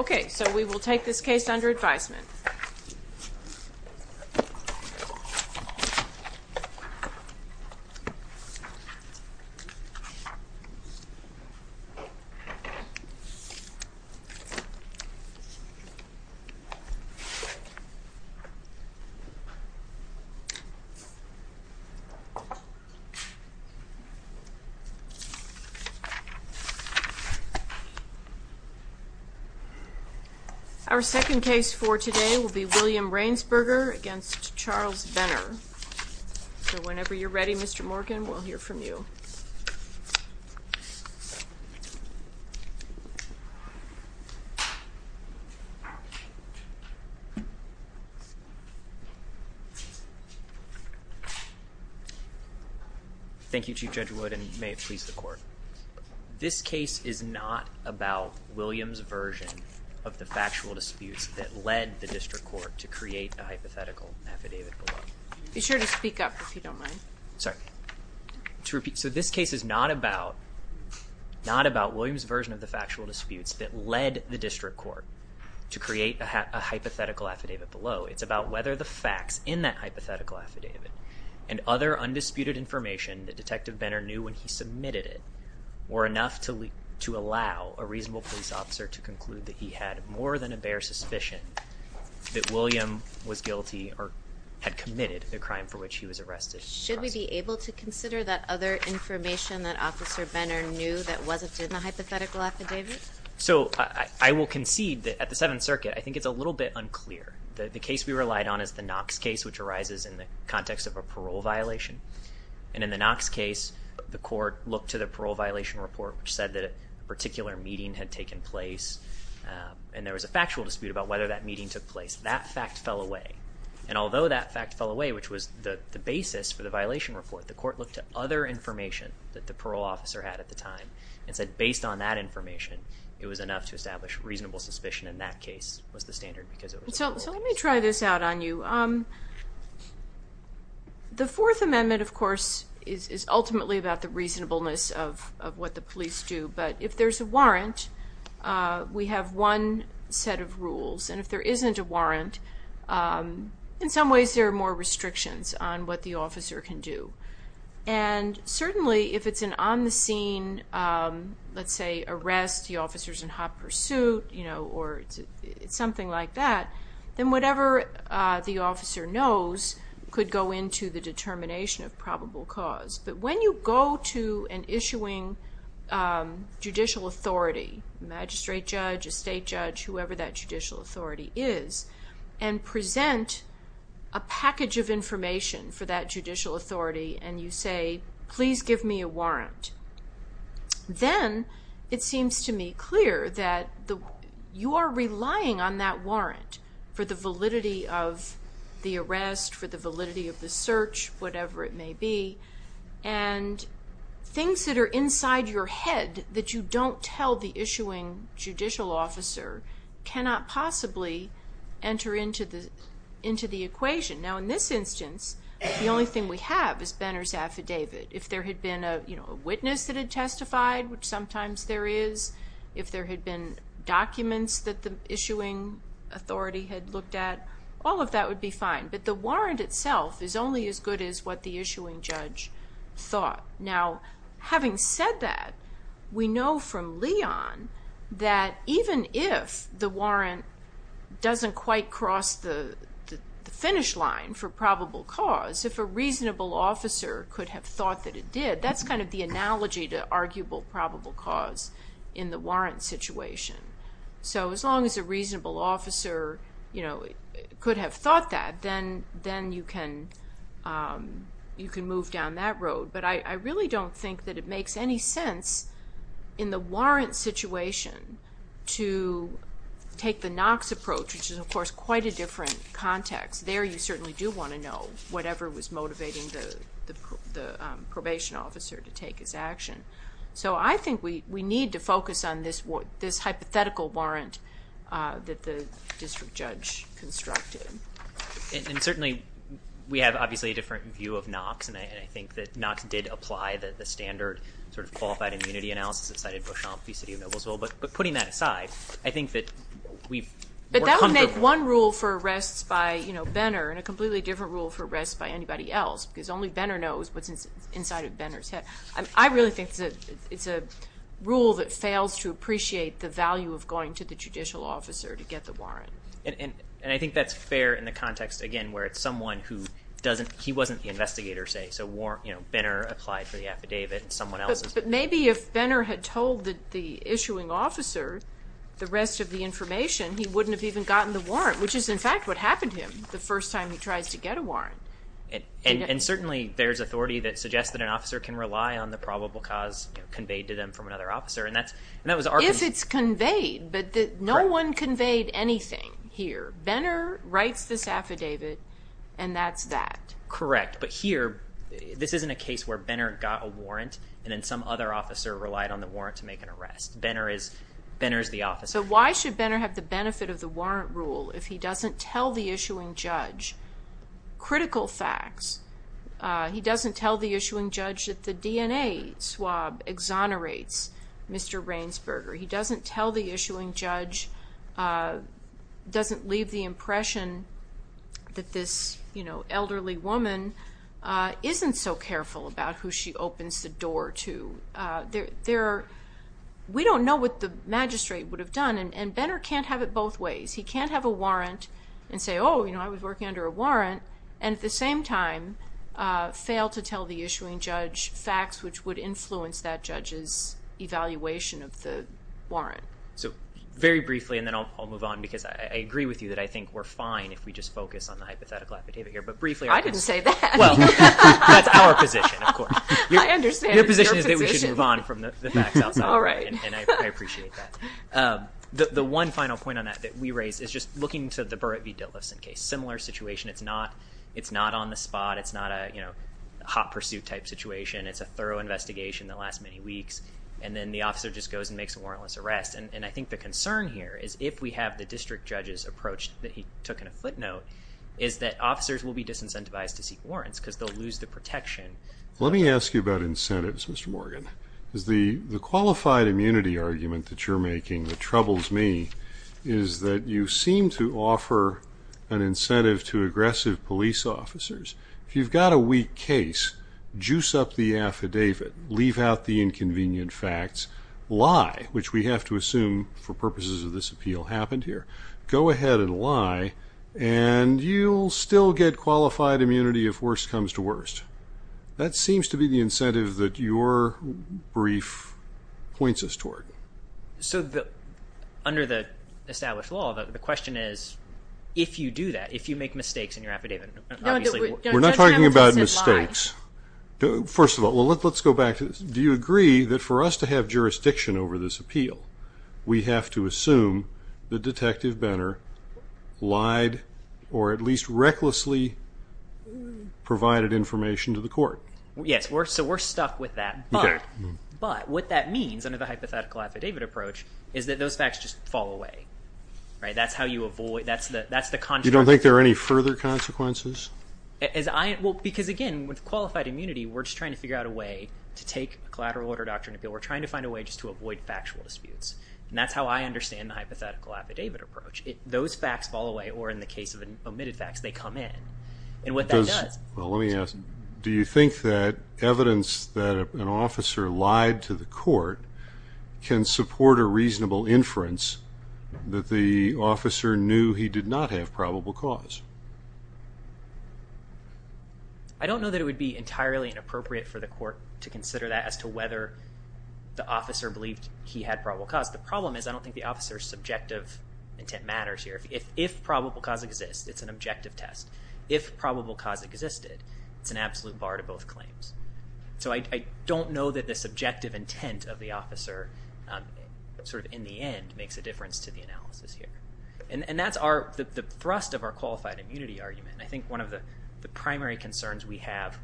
Okay, so we will take this case under advisement. Our second case for today will be William Rainsberger v. Charles Benner. Whenever you're ready, Mr. Morgan, we'll hear from you. Thank you, Chief Judge Wood, and may it please the Court. This case is not about William's version of the factual disputes that led the District Court to create a hypothetical affidavit below. Be sure to speak up if you don't mind. Sorry. So this case is not about William's version of the factual disputes that led the District Court to create a hypothetical affidavit below. It's about whether the facts in that hypothetical affidavit and other undisputed information that Detective Benner knew when he submitted it were enough to allow a reasonable police officer to conclude that he had more than a bare suspicion that William was guilty or had committed the crime for which he was arrested. Should we be able to consider that other information that Officer Benner knew that wasn't in the hypothetical affidavit? So I will concede that at the Seventh Circuit, I think it's a little bit unclear. The case we relied on is the Knox case, which arises in the context of a parole violation, and in the Knox case, the Court looked to the parole violation report, which said that a particular meeting had taken place, and there was a factual dispute about whether that meeting took place. That fact fell away, and although that fact fell away, which was the basis for the violation report, the Court looked at other information that the parole officer had at the time and said based on that information, it was enough to establish reasonable suspicion, and that case was the standard because it was a parole case. So let me try this out on you. The Fourth Amendment, of course, is ultimately about the reasonableness of what the police do, but if there's a warrant, we have one set of rules, and if there isn't a warrant, in some ways there are more restrictions on what the officer can do. And certainly if it's an on-the-scene, let's say, arrest, the officer's in hot pursuit, you know, or something like that, then whatever the officer knows could go into the determination of probable cause. But when you go to an issuing judicial authority, magistrate judge, estate judge, whoever that judicial authority is, and present a package of information for that judicial authority, and you say, please give me a warrant, then it seems to me clear that you are relying on that warrant for the validity of the arrest, for the validity of the search, whatever it may be, and things that are inside your head that you don't tell the issuing judicial officer cannot possibly enter into the equation. Now in this instance, the only thing we have is Benner's affidavit. If there had been a witness that had testified, which sometimes there is, if there had been documents that the issuing authority had looked at, all of that would be fine. But the warrant itself is only as good as what the issuing judge thought. Now having said that, we know from Leon that even if the warrant doesn't quite cross the finish line for probable cause, if a reasonable officer could have thought that it did, that's kind of the analogy to arguable probable cause in the warrant situation. So as long as a reasonable officer could have thought that, then you can move down that road. But I really don't think that it makes any sense in the warrant situation to take the Knox approach, which is, of course, quite a different context. There you certainly do want to know whatever was motivating the probation officer to take his action. So I think we need to focus on this hypothetical warrant that the district judge constructed. And certainly we have, obviously, a different view of Knox, and I think that Knox did apply the standard sort of qualified immunity analysis that cited Beauchamp v. City of Noblesville. That would make one rule for arrests by Benner and a completely different rule for arrests by anybody else because only Benner knows what's inside of Benner's head. I really think it's a rule that fails to appreciate the value of going to the judicial officer to get the warrant. And I think that's fair in the context, again, where it's someone who doesn't – he wasn't the investigator, say, so Benner applied for the affidavit and someone else is. But maybe if Benner had told the issuing officer the rest of the information, he wouldn't have even gotten the warrant, which is, in fact, what happened to him the first time he tries to get a warrant. And certainly there's authority that suggests that an officer can rely on the probable cause conveyed to them from another officer. If it's conveyed, but no one conveyed anything here. Benner writes this affidavit, and that's that. Correct. But here, this isn't a case where Benner got a warrant, and then some other officer relied on the warrant to make an arrest. Benner is the officer. So why should Benner have the benefit of the warrant rule if he doesn't tell the issuing judge critical facts? He doesn't tell the issuing judge that the DNA swab exonerates Mr. Rainsberger. He doesn't tell the issuing judge – doesn't leave the impression that this elderly woman isn't so careful about who she opens the door to. We don't know what the magistrate would have done, and Benner can't have it both ways. He can't have a warrant and say, oh, you know, I was working under a warrant, and at the same time fail to tell the issuing judge facts which would influence that judge's evaluation of the warrant. So very briefly, and then I'll move on, because I agree with you that I think we're fine if we just focus on the hypothetical affidavit here. I didn't say that. Well, that's our position, of course. I understand. Your position is that we should move on from the facts. All right. And I appreciate that. The one final point on that that we raised is just looking to the Burrett v. Dillifson case. Similar situation. It's not on the spot. It's not a hot-pursuit type situation. It's a thorough investigation that lasts many weeks, and then the officer just goes and makes a warrantless arrest. And I think the concern here is if we have the district judge's approach that he took in a footnote, is that officers will be disincentivized to seek warrants because they'll lose the protection. Let me ask you about incentives, Mr. Morgan. The qualified immunity argument that you're making that troubles me is that you seem to offer an incentive to aggressive police officers. If you've got a weak case, juice up the affidavit. Leave out the inconvenient facts. Lie, which we have to assume for purposes of this appeal happened here. Go ahead and lie, and you'll still get qualified immunity if worse comes to worst. That seems to be the incentive that your brief points us toward. So under the established law, the question is if you do that, if you make mistakes in your affidavit, obviously. No, Judge Hamilton said lie. We're not talking about mistakes. First of all, let's go back. Do you agree that for us to have jurisdiction over this appeal, we have to assume that Detective Benner lied or at least recklessly provided information to the court? Yes, so we're stuck with that. But what that means under the hypothetical affidavit approach is that those facts just fall away. That's how you avoid, that's the consequence. You don't think there are any further consequences? Because again, with qualified immunity, we're just trying to figure out a way to take a collateral order doctrine appeal. We're trying to find a way just to avoid factual disputes. And that's how I understand the hypothetical affidavit approach. Those facts fall away, or in the case of omitted facts, they come in. And what that does… Well, let me ask, do you think that evidence that an officer lied to the court can support a reasonable inference that the officer knew he did not have probable cause? I don't know that it would be entirely inappropriate for the court to consider that as to whether the officer believed he had probable cause. The problem is I don't think the officer's subjective intent matters here. If probable cause exists, it's an objective test. If probable cause existed, it's an absolute bar to both claims. So I don't know that the subjective intent of the officer in the end makes a difference to the analysis here. And that's the thrust of our qualified immunity argument. I think one of the primary concerns we have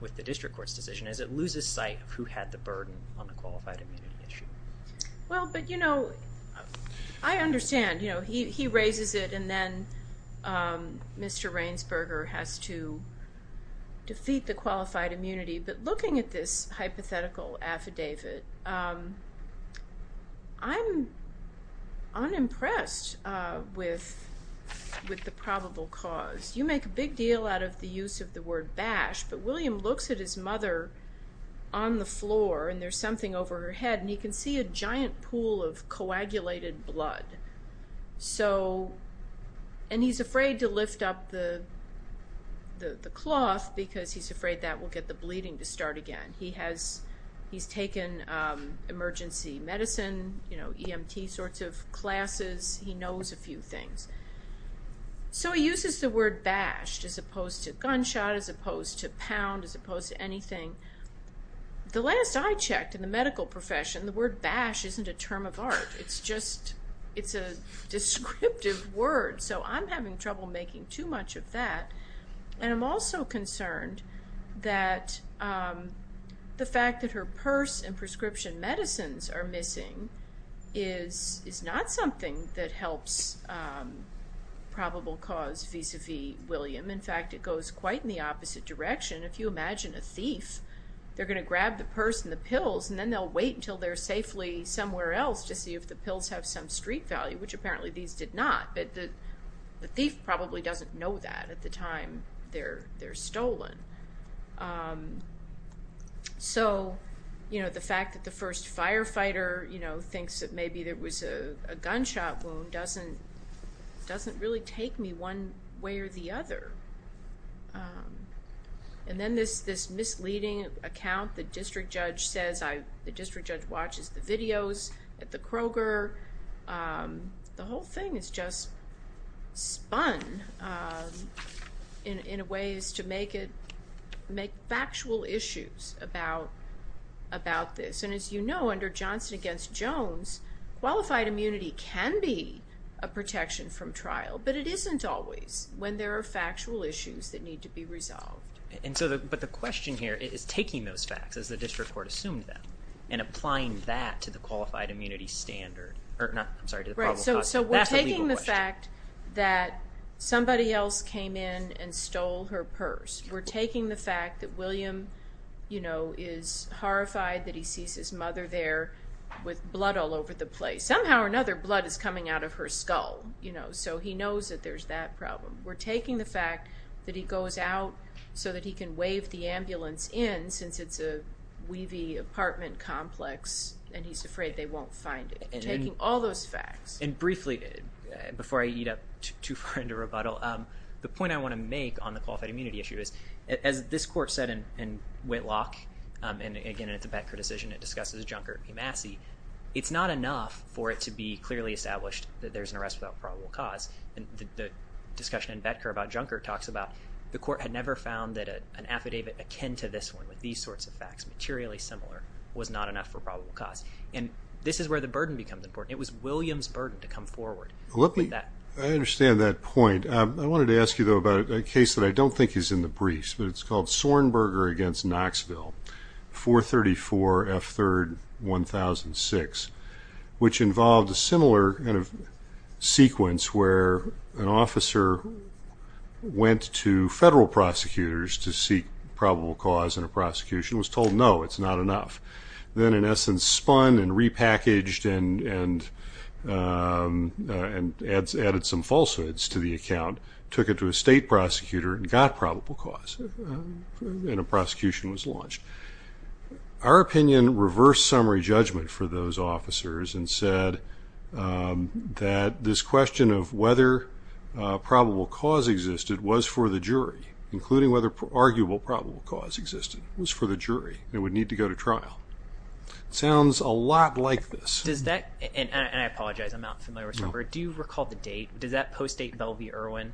with the district court's decision is it loses sight of who had the burden on the qualified immunity issue. Well, but you know, I understand. He raises it and then Mr. Rainsberger has to defeat the qualified immunity. But looking at this hypothetical affidavit, I'm unimpressed with the probable cause. You make a big deal out of the use of the word bash, but William looks at his mother on the floor and there's something over her head and he can see a giant pool of coagulated blood. And he's afraid to lift up the cloth because he's afraid that will get the bleeding to start again. He's taken emergency medicine, you know, EMT sorts of classes. He knows a few things. So he uses the word bash as opposed to gunshot, as opposed to pound, as opposed to anything. The last I checked in the medical profession, the word bash isn't a term of art. It's just a descriptive word. So I'm having trouble making too much of that. And I'm also concerned that the fact that her purse and prescription medicines are missing is not something that helps probable cause vis-à-vis William. In fact, it goes quite in the opposite direction. If you imagine a thief, they're going to grab the purse and the pills and then they'll wait until they're safely somewhere else to see if the pills have some street value, which apparently these did not. But the thief probably doesn't know that at the time they're stolen. So, you know, the fact that the first firefighter, you know, thinks that maybe there was a gunshot wound doesn't really take me one way or the other. And then this misleading account, the district judge says, the district judge watches the videos at the Kroger. The whole thing is just spun in ways to make factual issues about this. And as you know, under Johnson against Jones, qualified immunity can be a protection from trial. But it isn't always when there are factual issues that need to be resolved. And so, but the question here is taking those facts, as the district court assumed them, and applying that to the qualified immunity standard or not. I'm sorry. So we're taking the fact that somebody else came in and stole her purse. We're taking the fact that William, you know, is horrified that he sees his mother there with blood all over the place. Somehow or another, blood is coming out of her skull. You know, so he knows that there's that problem. We're taking the fact that he goes out so that he can waive the ambulance in, since it's a weavy apartment complex, and he's afraid they won't find it. Taking all those facts. And briefly, before I eat up too far into rebuttal, the point I want to make on the qualified immunity issue is, as this court said in Whitlock, and again in the Betker decision, it discusses Junker v. Massey, it's not enough for it to be clearly established that there's an arrest without probable cause. The discussion in Betker about Junker talks about the court had never found that an affidavit akin to this one, with these sorts of facts, materially similar, was not enough for probable cause. And this is where the burden becomes important. It was William's burden to come forward. I understand that point. I wanted to ask you, though, about a case that I don't think is in the briefs, but it's called Sornberger v. Knoxville, 434 F. 3rd, 1006, which involved a similar kind of sequence where an officer went to federal prosecutors to seek probable cause in a prosecution and was told, no, it's not enough. Then, in essence, spun and repackaged and added some falsehoods to the account, took it to a state prosecutor and got probable cause, and a prosecution was launched. Our opinion reversed summary judgment for those officers and said that this question of whether probable cause existed was for the jury, including whether arguable probable cause existed, was for the jury and would need to go to trial. It sounds a lot like this. And I apologize, I'm not familiar with Sornberger. Do you recall the date? Does that post-date Bell v. Irwin?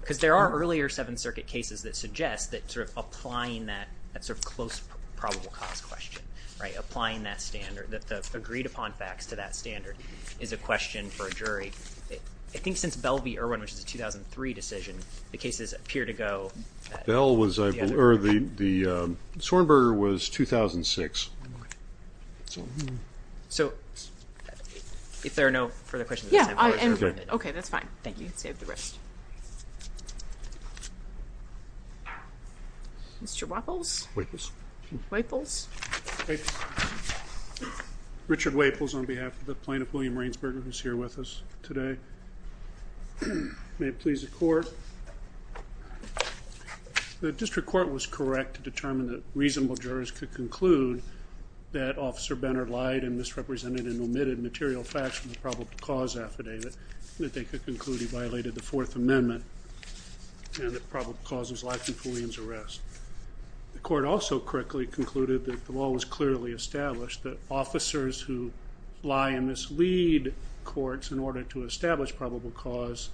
Because there are earlier Seventh Circuit cases that suggest that sort of applying that sort of close probable cause question, applying that standard, the agreed-upon facts to that standard, is a question for a jury. I think since Bell v. Irwin, which is a 2003 decision, the cases appear to go. The Sornberger was 2006. So if there are no further questions at this time. Yeah, I understand. Okay, that's fine. Thank you. Save the rest. Mr. Waples? Waples. Waples. Richard Waples on behalf of the plaintiff, William Rainsberger, who is here with us today. May it please the Court. The district court was correct to determine that reasonable jurors could conclude that Officer Benner lied and misrepresented and omitted material facts from the probable cause affidavit, and that they could conclude he violated the Fourth Amendment and that probable cause was lacking fully in his arrest. The Court also correctly concluded that the law was clearly established that officers who lie and mislead courts in order to establish probable cause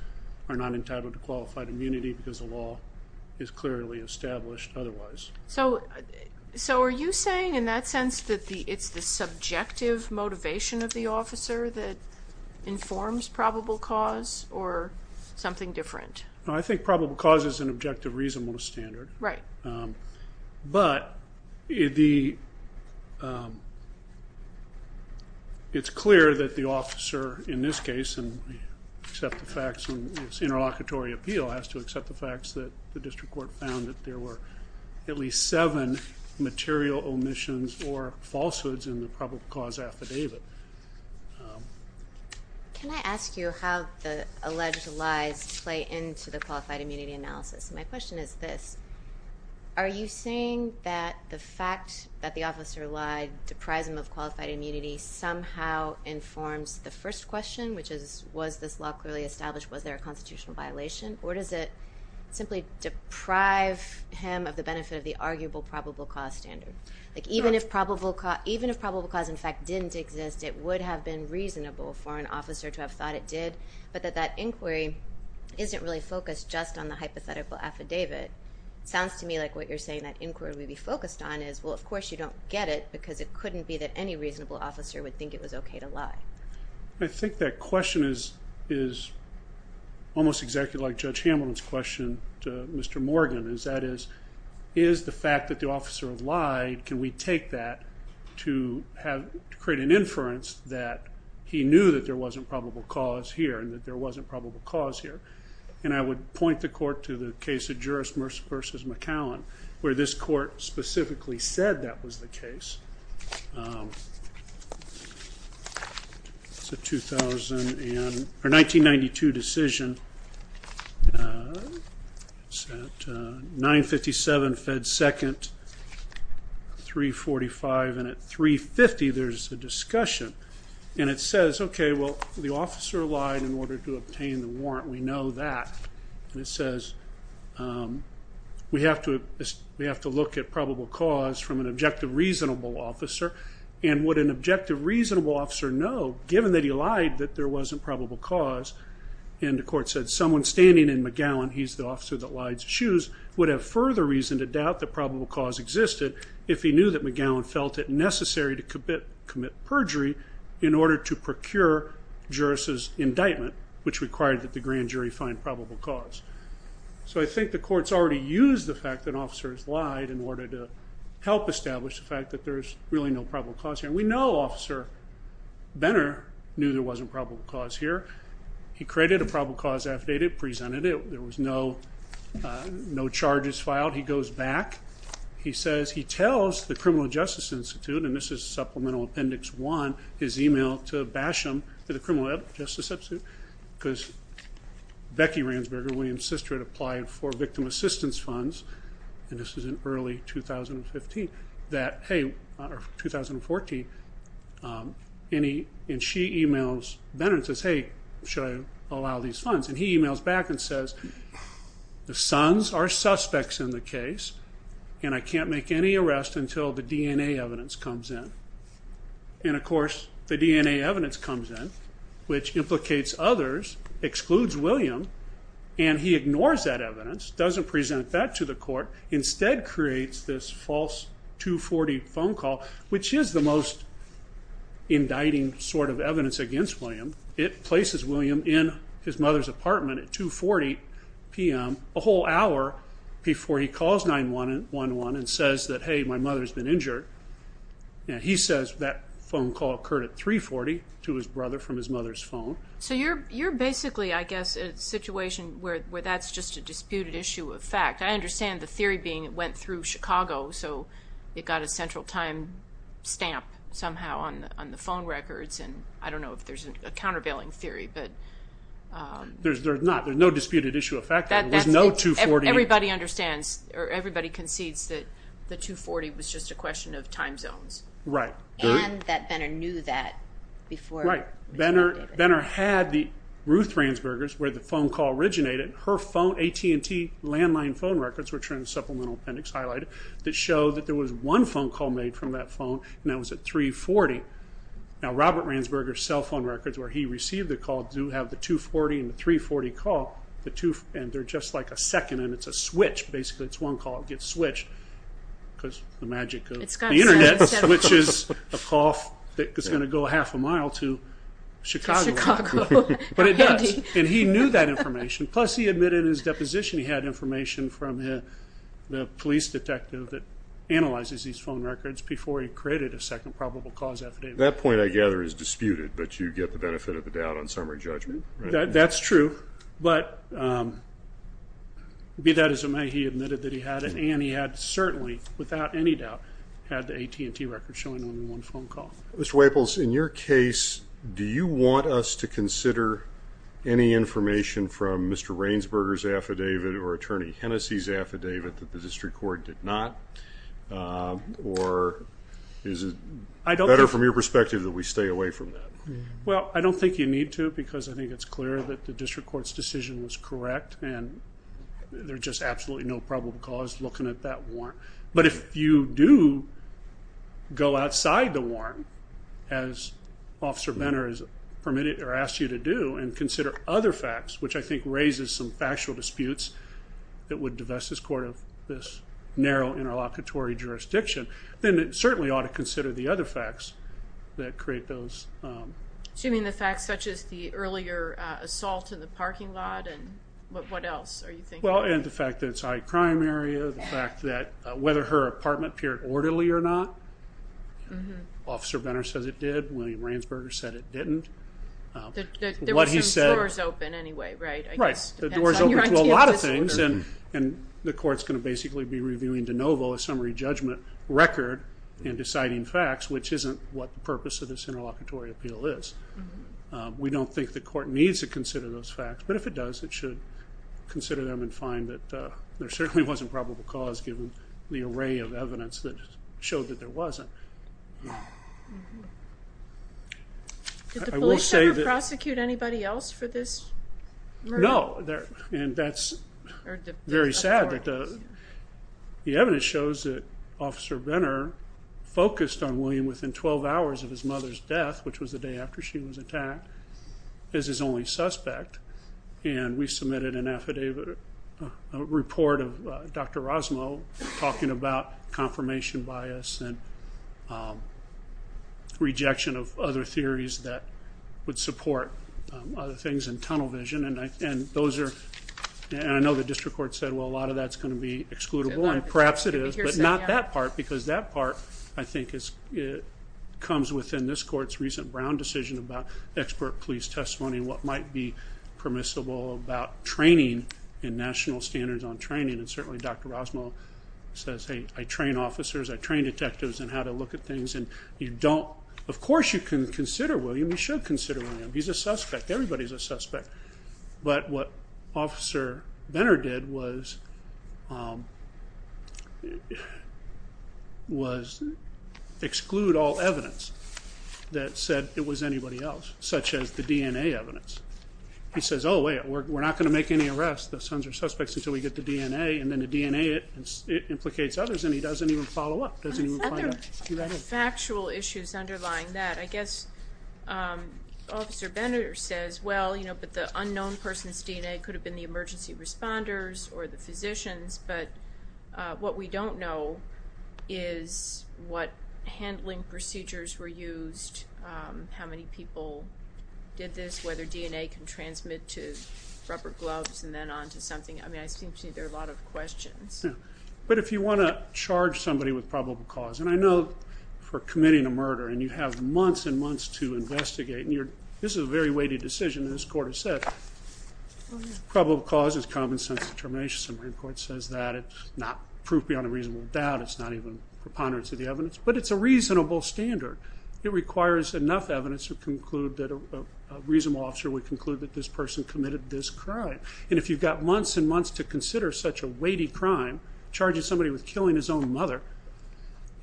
are not entitled to qualified immunity because the law is clearly established otherwise. So are you saying in that sense that it's the subjective motivation of the officer that informs probable cause or something different? No, I think probable cause is an objective reasonable standard. Right. But it's clear that the officer in this case, and we accept the facts in this interlocutory appeal, has to accept the facts that the district court found that there were at least seven material omissions or falsehoods in the probable cause affidavit. Can I ask you how the alleged lies play into the qualified immunity analysis? My question is this. Are you saying that the fact that the officer lied deprives him of qualified immunity somehow informs the first question, which is, was this law clearly established? Was there a constitutional violation? Or does it simply deprive him of the benefit of the arguable probable cause standard? Even if probable cause, in fact, didn't exist, it would have been reasonable for an officer to have thought it did, but that that inquiry isn't really focused just on the hypothetical affidavit. It sounds to me like what you're saying that inquiry would be focused on is, well, of course you don't get it because it couldn't be that any reasonable officer would think it was okay to lie. I think that question is almost exactly like Judge Hamilton's question to Mr. Morgan. That is, is the fact that the officer lied, can we take that to create an inference that he knew that there wasn't probable cause here and that there wasn't probable cause here? And I would point the court to the case of Juris Mercis versus McAllen, where this court specifically said that was the case. It's a 1992 decision. It's at 957 Fed Second, 345, and at 350 there's a discussion. And it says, okay, well, the officer lied in order to obtain the warrant. We know that. And it says we have to look at probable cause from an objective reasonable officer, and would an objective reasonable officer know, given that he lied, that there wasn't probable cause? And the court said someone standing in McGowan, he's the officer that lied to Shoes, would have further reason to doubt that probable cause existed if he knew that McGowan felt it necessary to commit perjury in order to procure Juris's indictment, which required that the grand jury find probable cause. So I think the court's already used the fact that officers lied in order to help establish the fact that there's really no probable cause here. And we know Officer Benner knew there wasn't probable cause here. He created a probable cause affidavit, presented it. There was no charges filed. He goes back. He says he tells the Criminal Justice Institute, and this is Supplemental Appendix 1, his email to Basham at the Criminal Justice Institute because Becky Ransberger, William's sister, had applied for victim assistance funds, and this was in early 2015, that, hey, or 2014, and she emails Benner and says, hey, should I allow these funds? And he emails back and says, the sons are suspects in the case, and I can't make any arrest until the DNA evidence comes in. And, of course, the DNA evidence comes in, which implicates others, excludes William, and he ignores that evidence, doesn't present that to the court, instead creates this false 240 phone call, which is the most indicting sort of evidence against William. It places William in his mother's apartment at 2.40 p.m., a whole hour before he calls 911 and says that, hey, my mother's been injured, and he says that phone call occurred at 3.40 to his brother from his mother's phone. So you're basically, I guess, in a situation where that's just a disputed issue of fact. I understand the theory being it went through Chicago, so it got a central time stamp somehow on the phone records, and I don't know if there's a countervailing theory. There's not. There's no disputed issue of fact. There was no 240. Everybody understands or everybody concedes that the 240 was just a question of time zones. Right. And that Benner knew that before. Right. Benner had the Ruth Ransburgers where the phone call originated. Her phone, AT&T landline phone records, which are in the supplemental appendix highlighted, that show that there was one phone call made from that phone, and that was at 3.40. Now, Robert Ransburgers' cell phone records where he received the call do have the 240 and the 340 call, and they're just like a second, and it's a switch. Basically, it's one call. It gets switched because the magic of the Internet, which is a call that's going to go half a mile to Chicago. To Chicago. But it does, and he knew that information. Plus, he admitted in his deposition he had information from the police detective that analyzes these phone records before he created a second probable cause affidavit. That point, I gather, is disputed, but you get the benefit of the doubt on summary judgment. That's true, but be that as it may, he admitted that he had it, and he had certainly, without any doubt, had the AT&T record showing only one phone call. Mr. Waples, in your case, do you want us to consider any information from Mr. Ransburgers' affidavit or Attorney Hennessy's affidavit that the district court did not, or is it better from your perspective that we stay away from that? Well, I don't think you need to, because I think it's clear that the district court's decision was correct, and there's just absolutely no probable cause looking at that warrant. But if you do go outside the warrant, as Officer Benner has permitted or asked you to do, and consider other facts, which I think raises some factual disputes that would divest this court of this narrow interlocutory jurisdiction, then it certainly ought to consider the other facts that create those. So you mean the facts such as the earlier assault in the parking lot? What else are you thinking? Well, and the fact that it's a high-crime area, the fact that whether her apartment appeared orderly or not. Officer Benner says it did. William Ransburgers said it didn't. There were some doors open anyway, right? Right, the doors open to a lot of things, and the court's going to basically be reviewing de novo a summary judgment record and deciding facts, which isn't what the purpose of this interlocutory appeal is. We don't think the court needs to consider those facts, but if it does, it should consider them and find that there certainly wasn't probable cause given the array of evidence that showed that there wasn't. Did the police ever prosecute anybody else for this murder? No, and that's very sad. The evidence shows that Officer Benner focused on William within 12 hours of his mother's death, which was the day after she was attacked, as his only suspect, and we submitted a report of Dr. Rosmo talking about confirmation bias and rejection of other theories that would support other things in tunnel vision, and I know the district court said, well, a lot of that's going to be excludable, and perhaps it is, but not that part because that part, I think, comes within this court's recent Brown decision about expert police testimony and what might be permissible about training and national standards on training, and certainly Dr. Rosmo says, hey, I train officers, I train detectives in how to look at things, and of course you can consider William. You should consider William. He's a suspect. Everybody's a suspect, but what Officer Benner did was exclude all evidence that said it was anybody else, such as the DNA evidence. He says, oh, wait, we're not going to make any arrests. The sons are suspects until we get the DNA, and then the DNA implicates others, and he doesn't even follow up. There's other factual issues underlying that. I guess Officer Benner says, well, but the unknown person's DNA could have been the emergency responders or the physicians, but what we don't know is what handling procedures were used, how many people did this, whether DNA can transmit to rubber gloves and then on to something. I mean, I seem to see there are a lot of questions. But if you want to charge somebody with probable cause, and I know for committing a murder and you have months and months to investigate, and this is a very weighted decision, and this court has said probable cause is common sense determination. The Supreme Court says that. It's not proof beyond a reasonable doubt. It's not even preponderance of the evidence, but it's a reasonable standard. It requires enough evidence to conclude that a reasonable officer would conclude that this person committed this crime. And if you've got months and months to consider such a weighty crime, charging somebody with killing his own mother,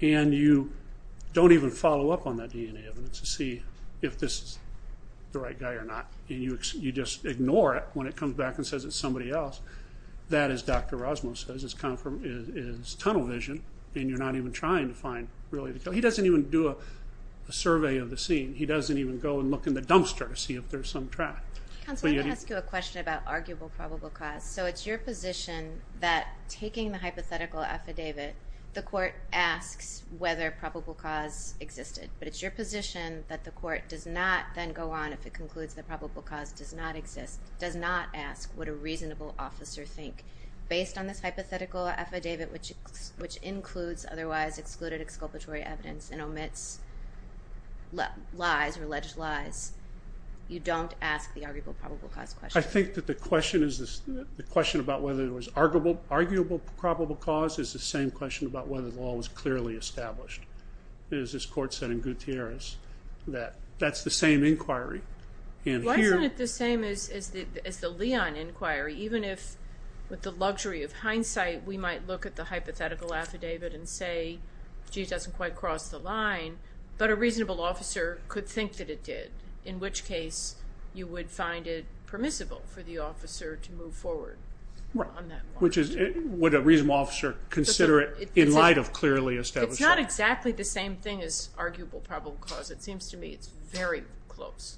and you don't even follow up on that DNA evidence to see if this is the right guy or not, and you just ignore it when it comes back and says it's somebody else, that, as Dr. Rosmo says, is tunnel vision, and you're not even trying to find really the killer. So he doesn't even do a survey of the scene. He doesn't even go and look in the dumpster to see if there's some track. Counsel, I'm going to ask you a question about arguable probable cause. So it's your position that taking the hypothetical affidavit, the court asks whether probable cause existed, but it's your position that the court does not then go on if it concludes that probable cause does not exist, does not ask what a reasonable officer thinks based on this hypothetical affidavit, which includes otherwise excluded exculpatory evidence and omits lies or alleged lies, you don't ask the arguable probable cause question? I think that the question about whether it was arguable probable cause is the same question about whether the law was clearly established, as this court said in Gutierrez, that that's the same inquiry, and here... Why isn't it the same as the Leon inquiry, even if, with the luxury of hindsight, we might look at the hypothetical affidavit and say, gee, it doesn't quite cross the line, but a reasonable officer could think that it did, in which case you would find it permissible for the officer to move forward on that one. Which is, would a reasonable officer consider it in light of clearly established... It's not exactly the same thing as arguable probable cause. It seems to me it's very close.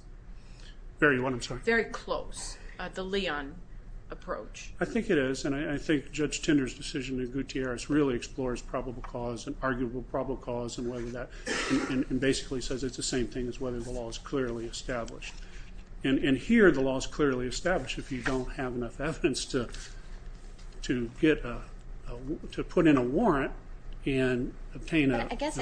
Very what, I'm sorry? Very close, the Leon approach. I think it is, and I think Judge Tinder's decision in Gutierrez really explores probable cause and arguable probable cause and basically says it's the same thing as whether the law is clearly established. And here the law is clearly established if you don't have enough evidence to get a... to put in a warrant and obtain a... But I guess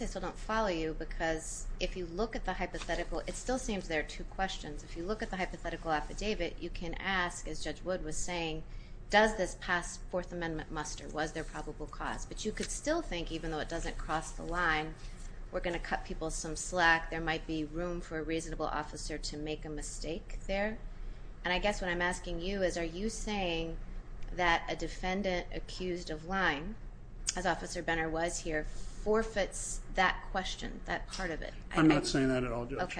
I still don't follow you, because if you look at the hypothetical, it still seems there are two questions. If you look at the hypothetical affidavit, you can ask, as Judge Wood was saying, does this past Fourth Amendment muster? Was there probable cause? But you could still think, even though it doesn't cross the line, we're going to cut people some slack. There might be room for a reasonable officer to make a mistake there. And I guess what I'm asking you is, are you saying that a defendant accused of lying, as Officer Benner was here, forfeits that question, that part of it? I'm not saying that at all, Judge.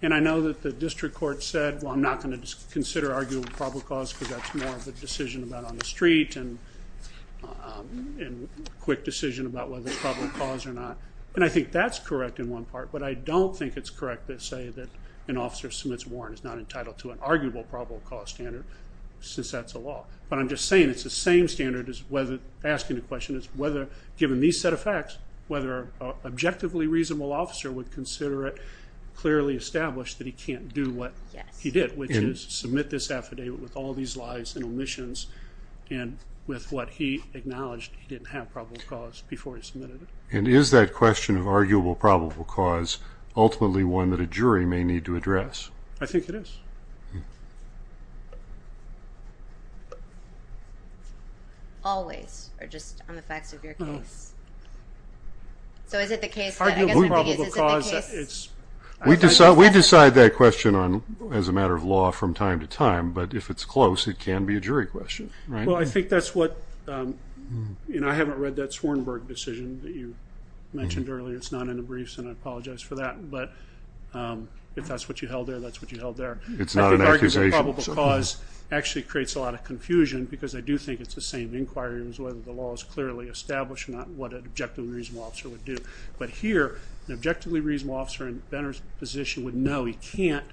And I know that the district court said, well, I'm not going to consider arguable probable cause, because that's more of a decision about on the street and a quick decision about whether it's probable cause or not. And I think that's correct in one part, but I don't think it's correct to say that an officer submits a warrant is not entitled to an arguable probable cause standard, since that's a law. But I'm just saying it's the same standard as asking the question, given these set of facts, whether an objectively reasonable officer would consider it clearly established that he can't do what he did, which is submit this affidavit with all these lies and omissions and with what he acknowledged he didn't have probable cause before he submitted it. And is that question of arguable probable cause ultimately one that a jury may need to address? I think it is. Always, or just on the facts of your case. So is it the case that... Arguable probable cause, it's... We decide that question as a matter of law from time to time, but if it's close, it can be a jury question. Well, I think that's what... I haven't read that Swarnberg decision that you mentioned earlier. It's not in the briefs, and I apologize for that. But if that's what you held there, that's what you held there. It's not an accusation. Arguable probable cause actually creates a lot of confusion, because I do think it's the same inquiry as whether the law is clearly established or not, what an objectively reasonable officer would do. But here, an objectively reasonable officer in Benner's position would know he can't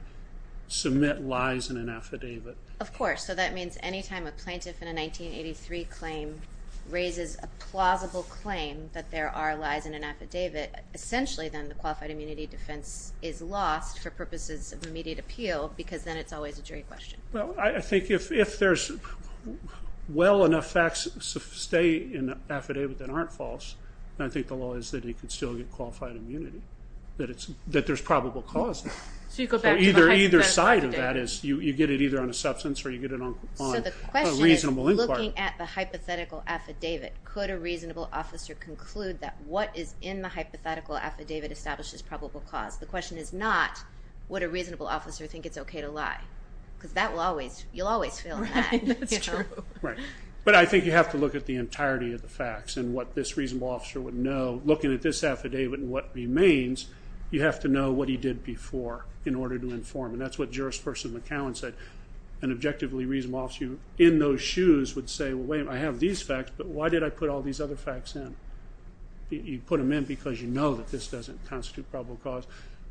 submit lies in an affidavit. Of course. So that means any time a plaintiff in a 1983 claim raises a plausible claim that there are lies in an affidavit, essentially then the qualified immunity defense is lost for purposes of immediate appeal, because then it's always a jury question. Well, I think if there's well enough facts to stay in an affidavit that aren't false, then I think the law is that he can still get qualified immunity, that there's probable cause there. So you go back to the hypothetical affidavit? Either side of that is you get it either on a substance or you get it on a reasonable inquiry. So the question is, looking at the hypothetical affidavit, could a reasonable officer conclude that what is in the hypothetical affidavit establishes probable cause? The question is not would a reasonable officer think it's OK to lie, because you'll always feel that. Right, that's true. But I think you have to look at the entirety of the facts and what this reasonable officer would know. Looking at this affidavit and what remains, you have to know what he did before in order to inform, and that's what Juris Person McCowan said. An objectively reasonable officer in those shoes would say, well, wait a minute, I have these facts, but why did I put all these other facts in? You put them in because you know that this doesn't constitute probable cause,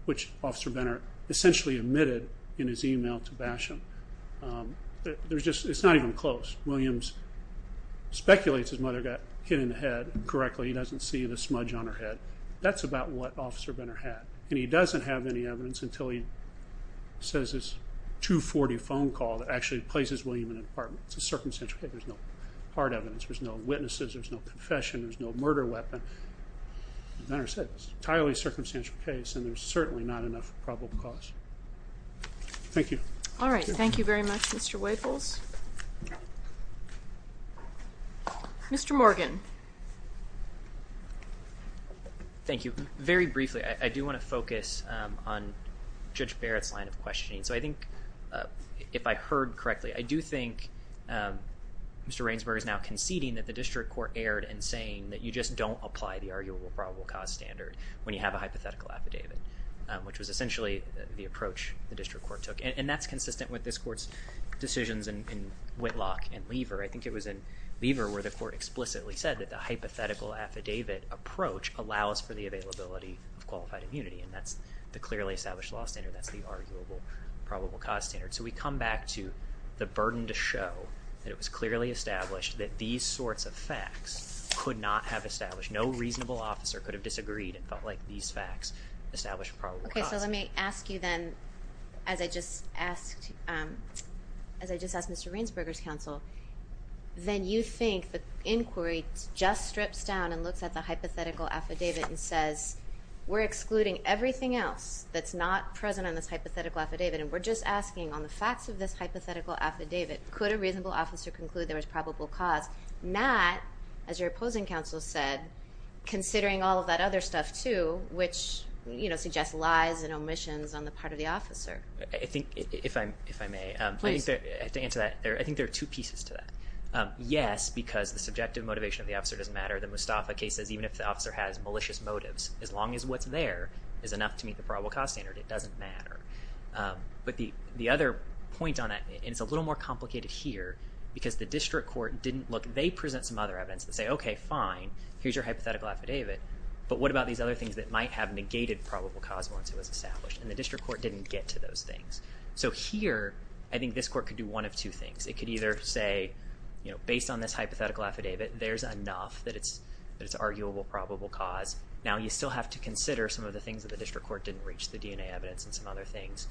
which Officer Benner essentially admitted in his email to Basham. It's not even close. Williams speculates his mother got hit in the head correctly. He doesn't see the smudge on her head. That's about what Officer Benner had, and he doesn't have any evidence until he says this 240 phone call that actually places William in an apartment. It's a circumstantial case. There's no hard evidence. There's no witnesses. There's no confession. There's no murder weapon. As Benner said, it's an entirely circumstantial case, and there's certainly not enough probable cause. Thank you. All right. Thank you very much, Mr. Waples. Mr. Morgan. Thank you. Very briefly, I do want to focus on Judge Barrett's line of questioning, so I think if I heard correctly, I do think Mr. Rainsburg is now conceding that the district court erred in saying that you just don't apply the arguable probable cause standard when you have a hypothetical affidavit, which was essentially the approach the district court took, and that's consistent with this court's decisions in Whitlock and Lever. I think it was in Lever where the court explicitly said that the hypothetical affidavit approach allows for the availability of qualified immunity, and that's the clearly established law standard. That's the arguable probable cause standard. So we come back to the burden to show that it was clearly established that these sorts of facts could not have established. No reasonable officer could have disagreed and felt like these facts established probable cause. Okay, so let me ask you then, as I just asked Mr. Rainsburg's counsel, then you think the inquiry just strips down and looks at the hypothetical affidavit and says, we're excluding everything else that's not present on this hypothetical affidavit, and we're just asking on the facts of this hypothetical affidavit, could a reasonable officer conclude there was probable cause? Not, as your opposing counsel said, considering all of that other stuff too, which suggests lies and omissions on the part of the officer. If I may, I think there are two pieces to that. Yes, because the subjective motivation of the officer doesn't matter. The Mustafa case says even if the officer has malicious motives, as long as what's there is enough to meet the probable cause standard, it doesn't matter. But the other point on that, and it's a little more complicated here, because the district court didn't look, they present some other evidence and say, okay, fine, here's your hypothetical affidavit, but what about these other things that might have negated probable cause once it was established? And the district court didn't get to those things. So here, I think this court could do one of two things. It could either say, based on this hypothetical affidavit, there's enough that it's arguable probable cause. Now you still have to consider some of the things that the district court didn't reach the DNA evidence and some other things.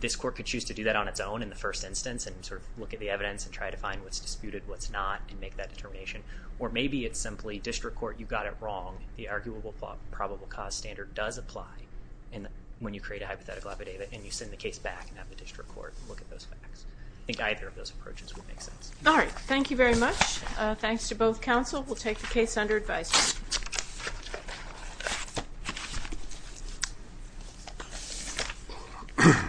This court could choose to do that on its own in the first instance and sort of look at the evidence and try to find what's disputed, what's not, and make that determination. Or maybe it's simply district court, you got it wrong, the arguable probable cause standard does apply when you create a hypothetical affidavit, and you send the case back and have the district court look at those facts. I think either of those approaches would make sense. All right, thank you very much. Thanks to both counsel. We'll take the case under advice.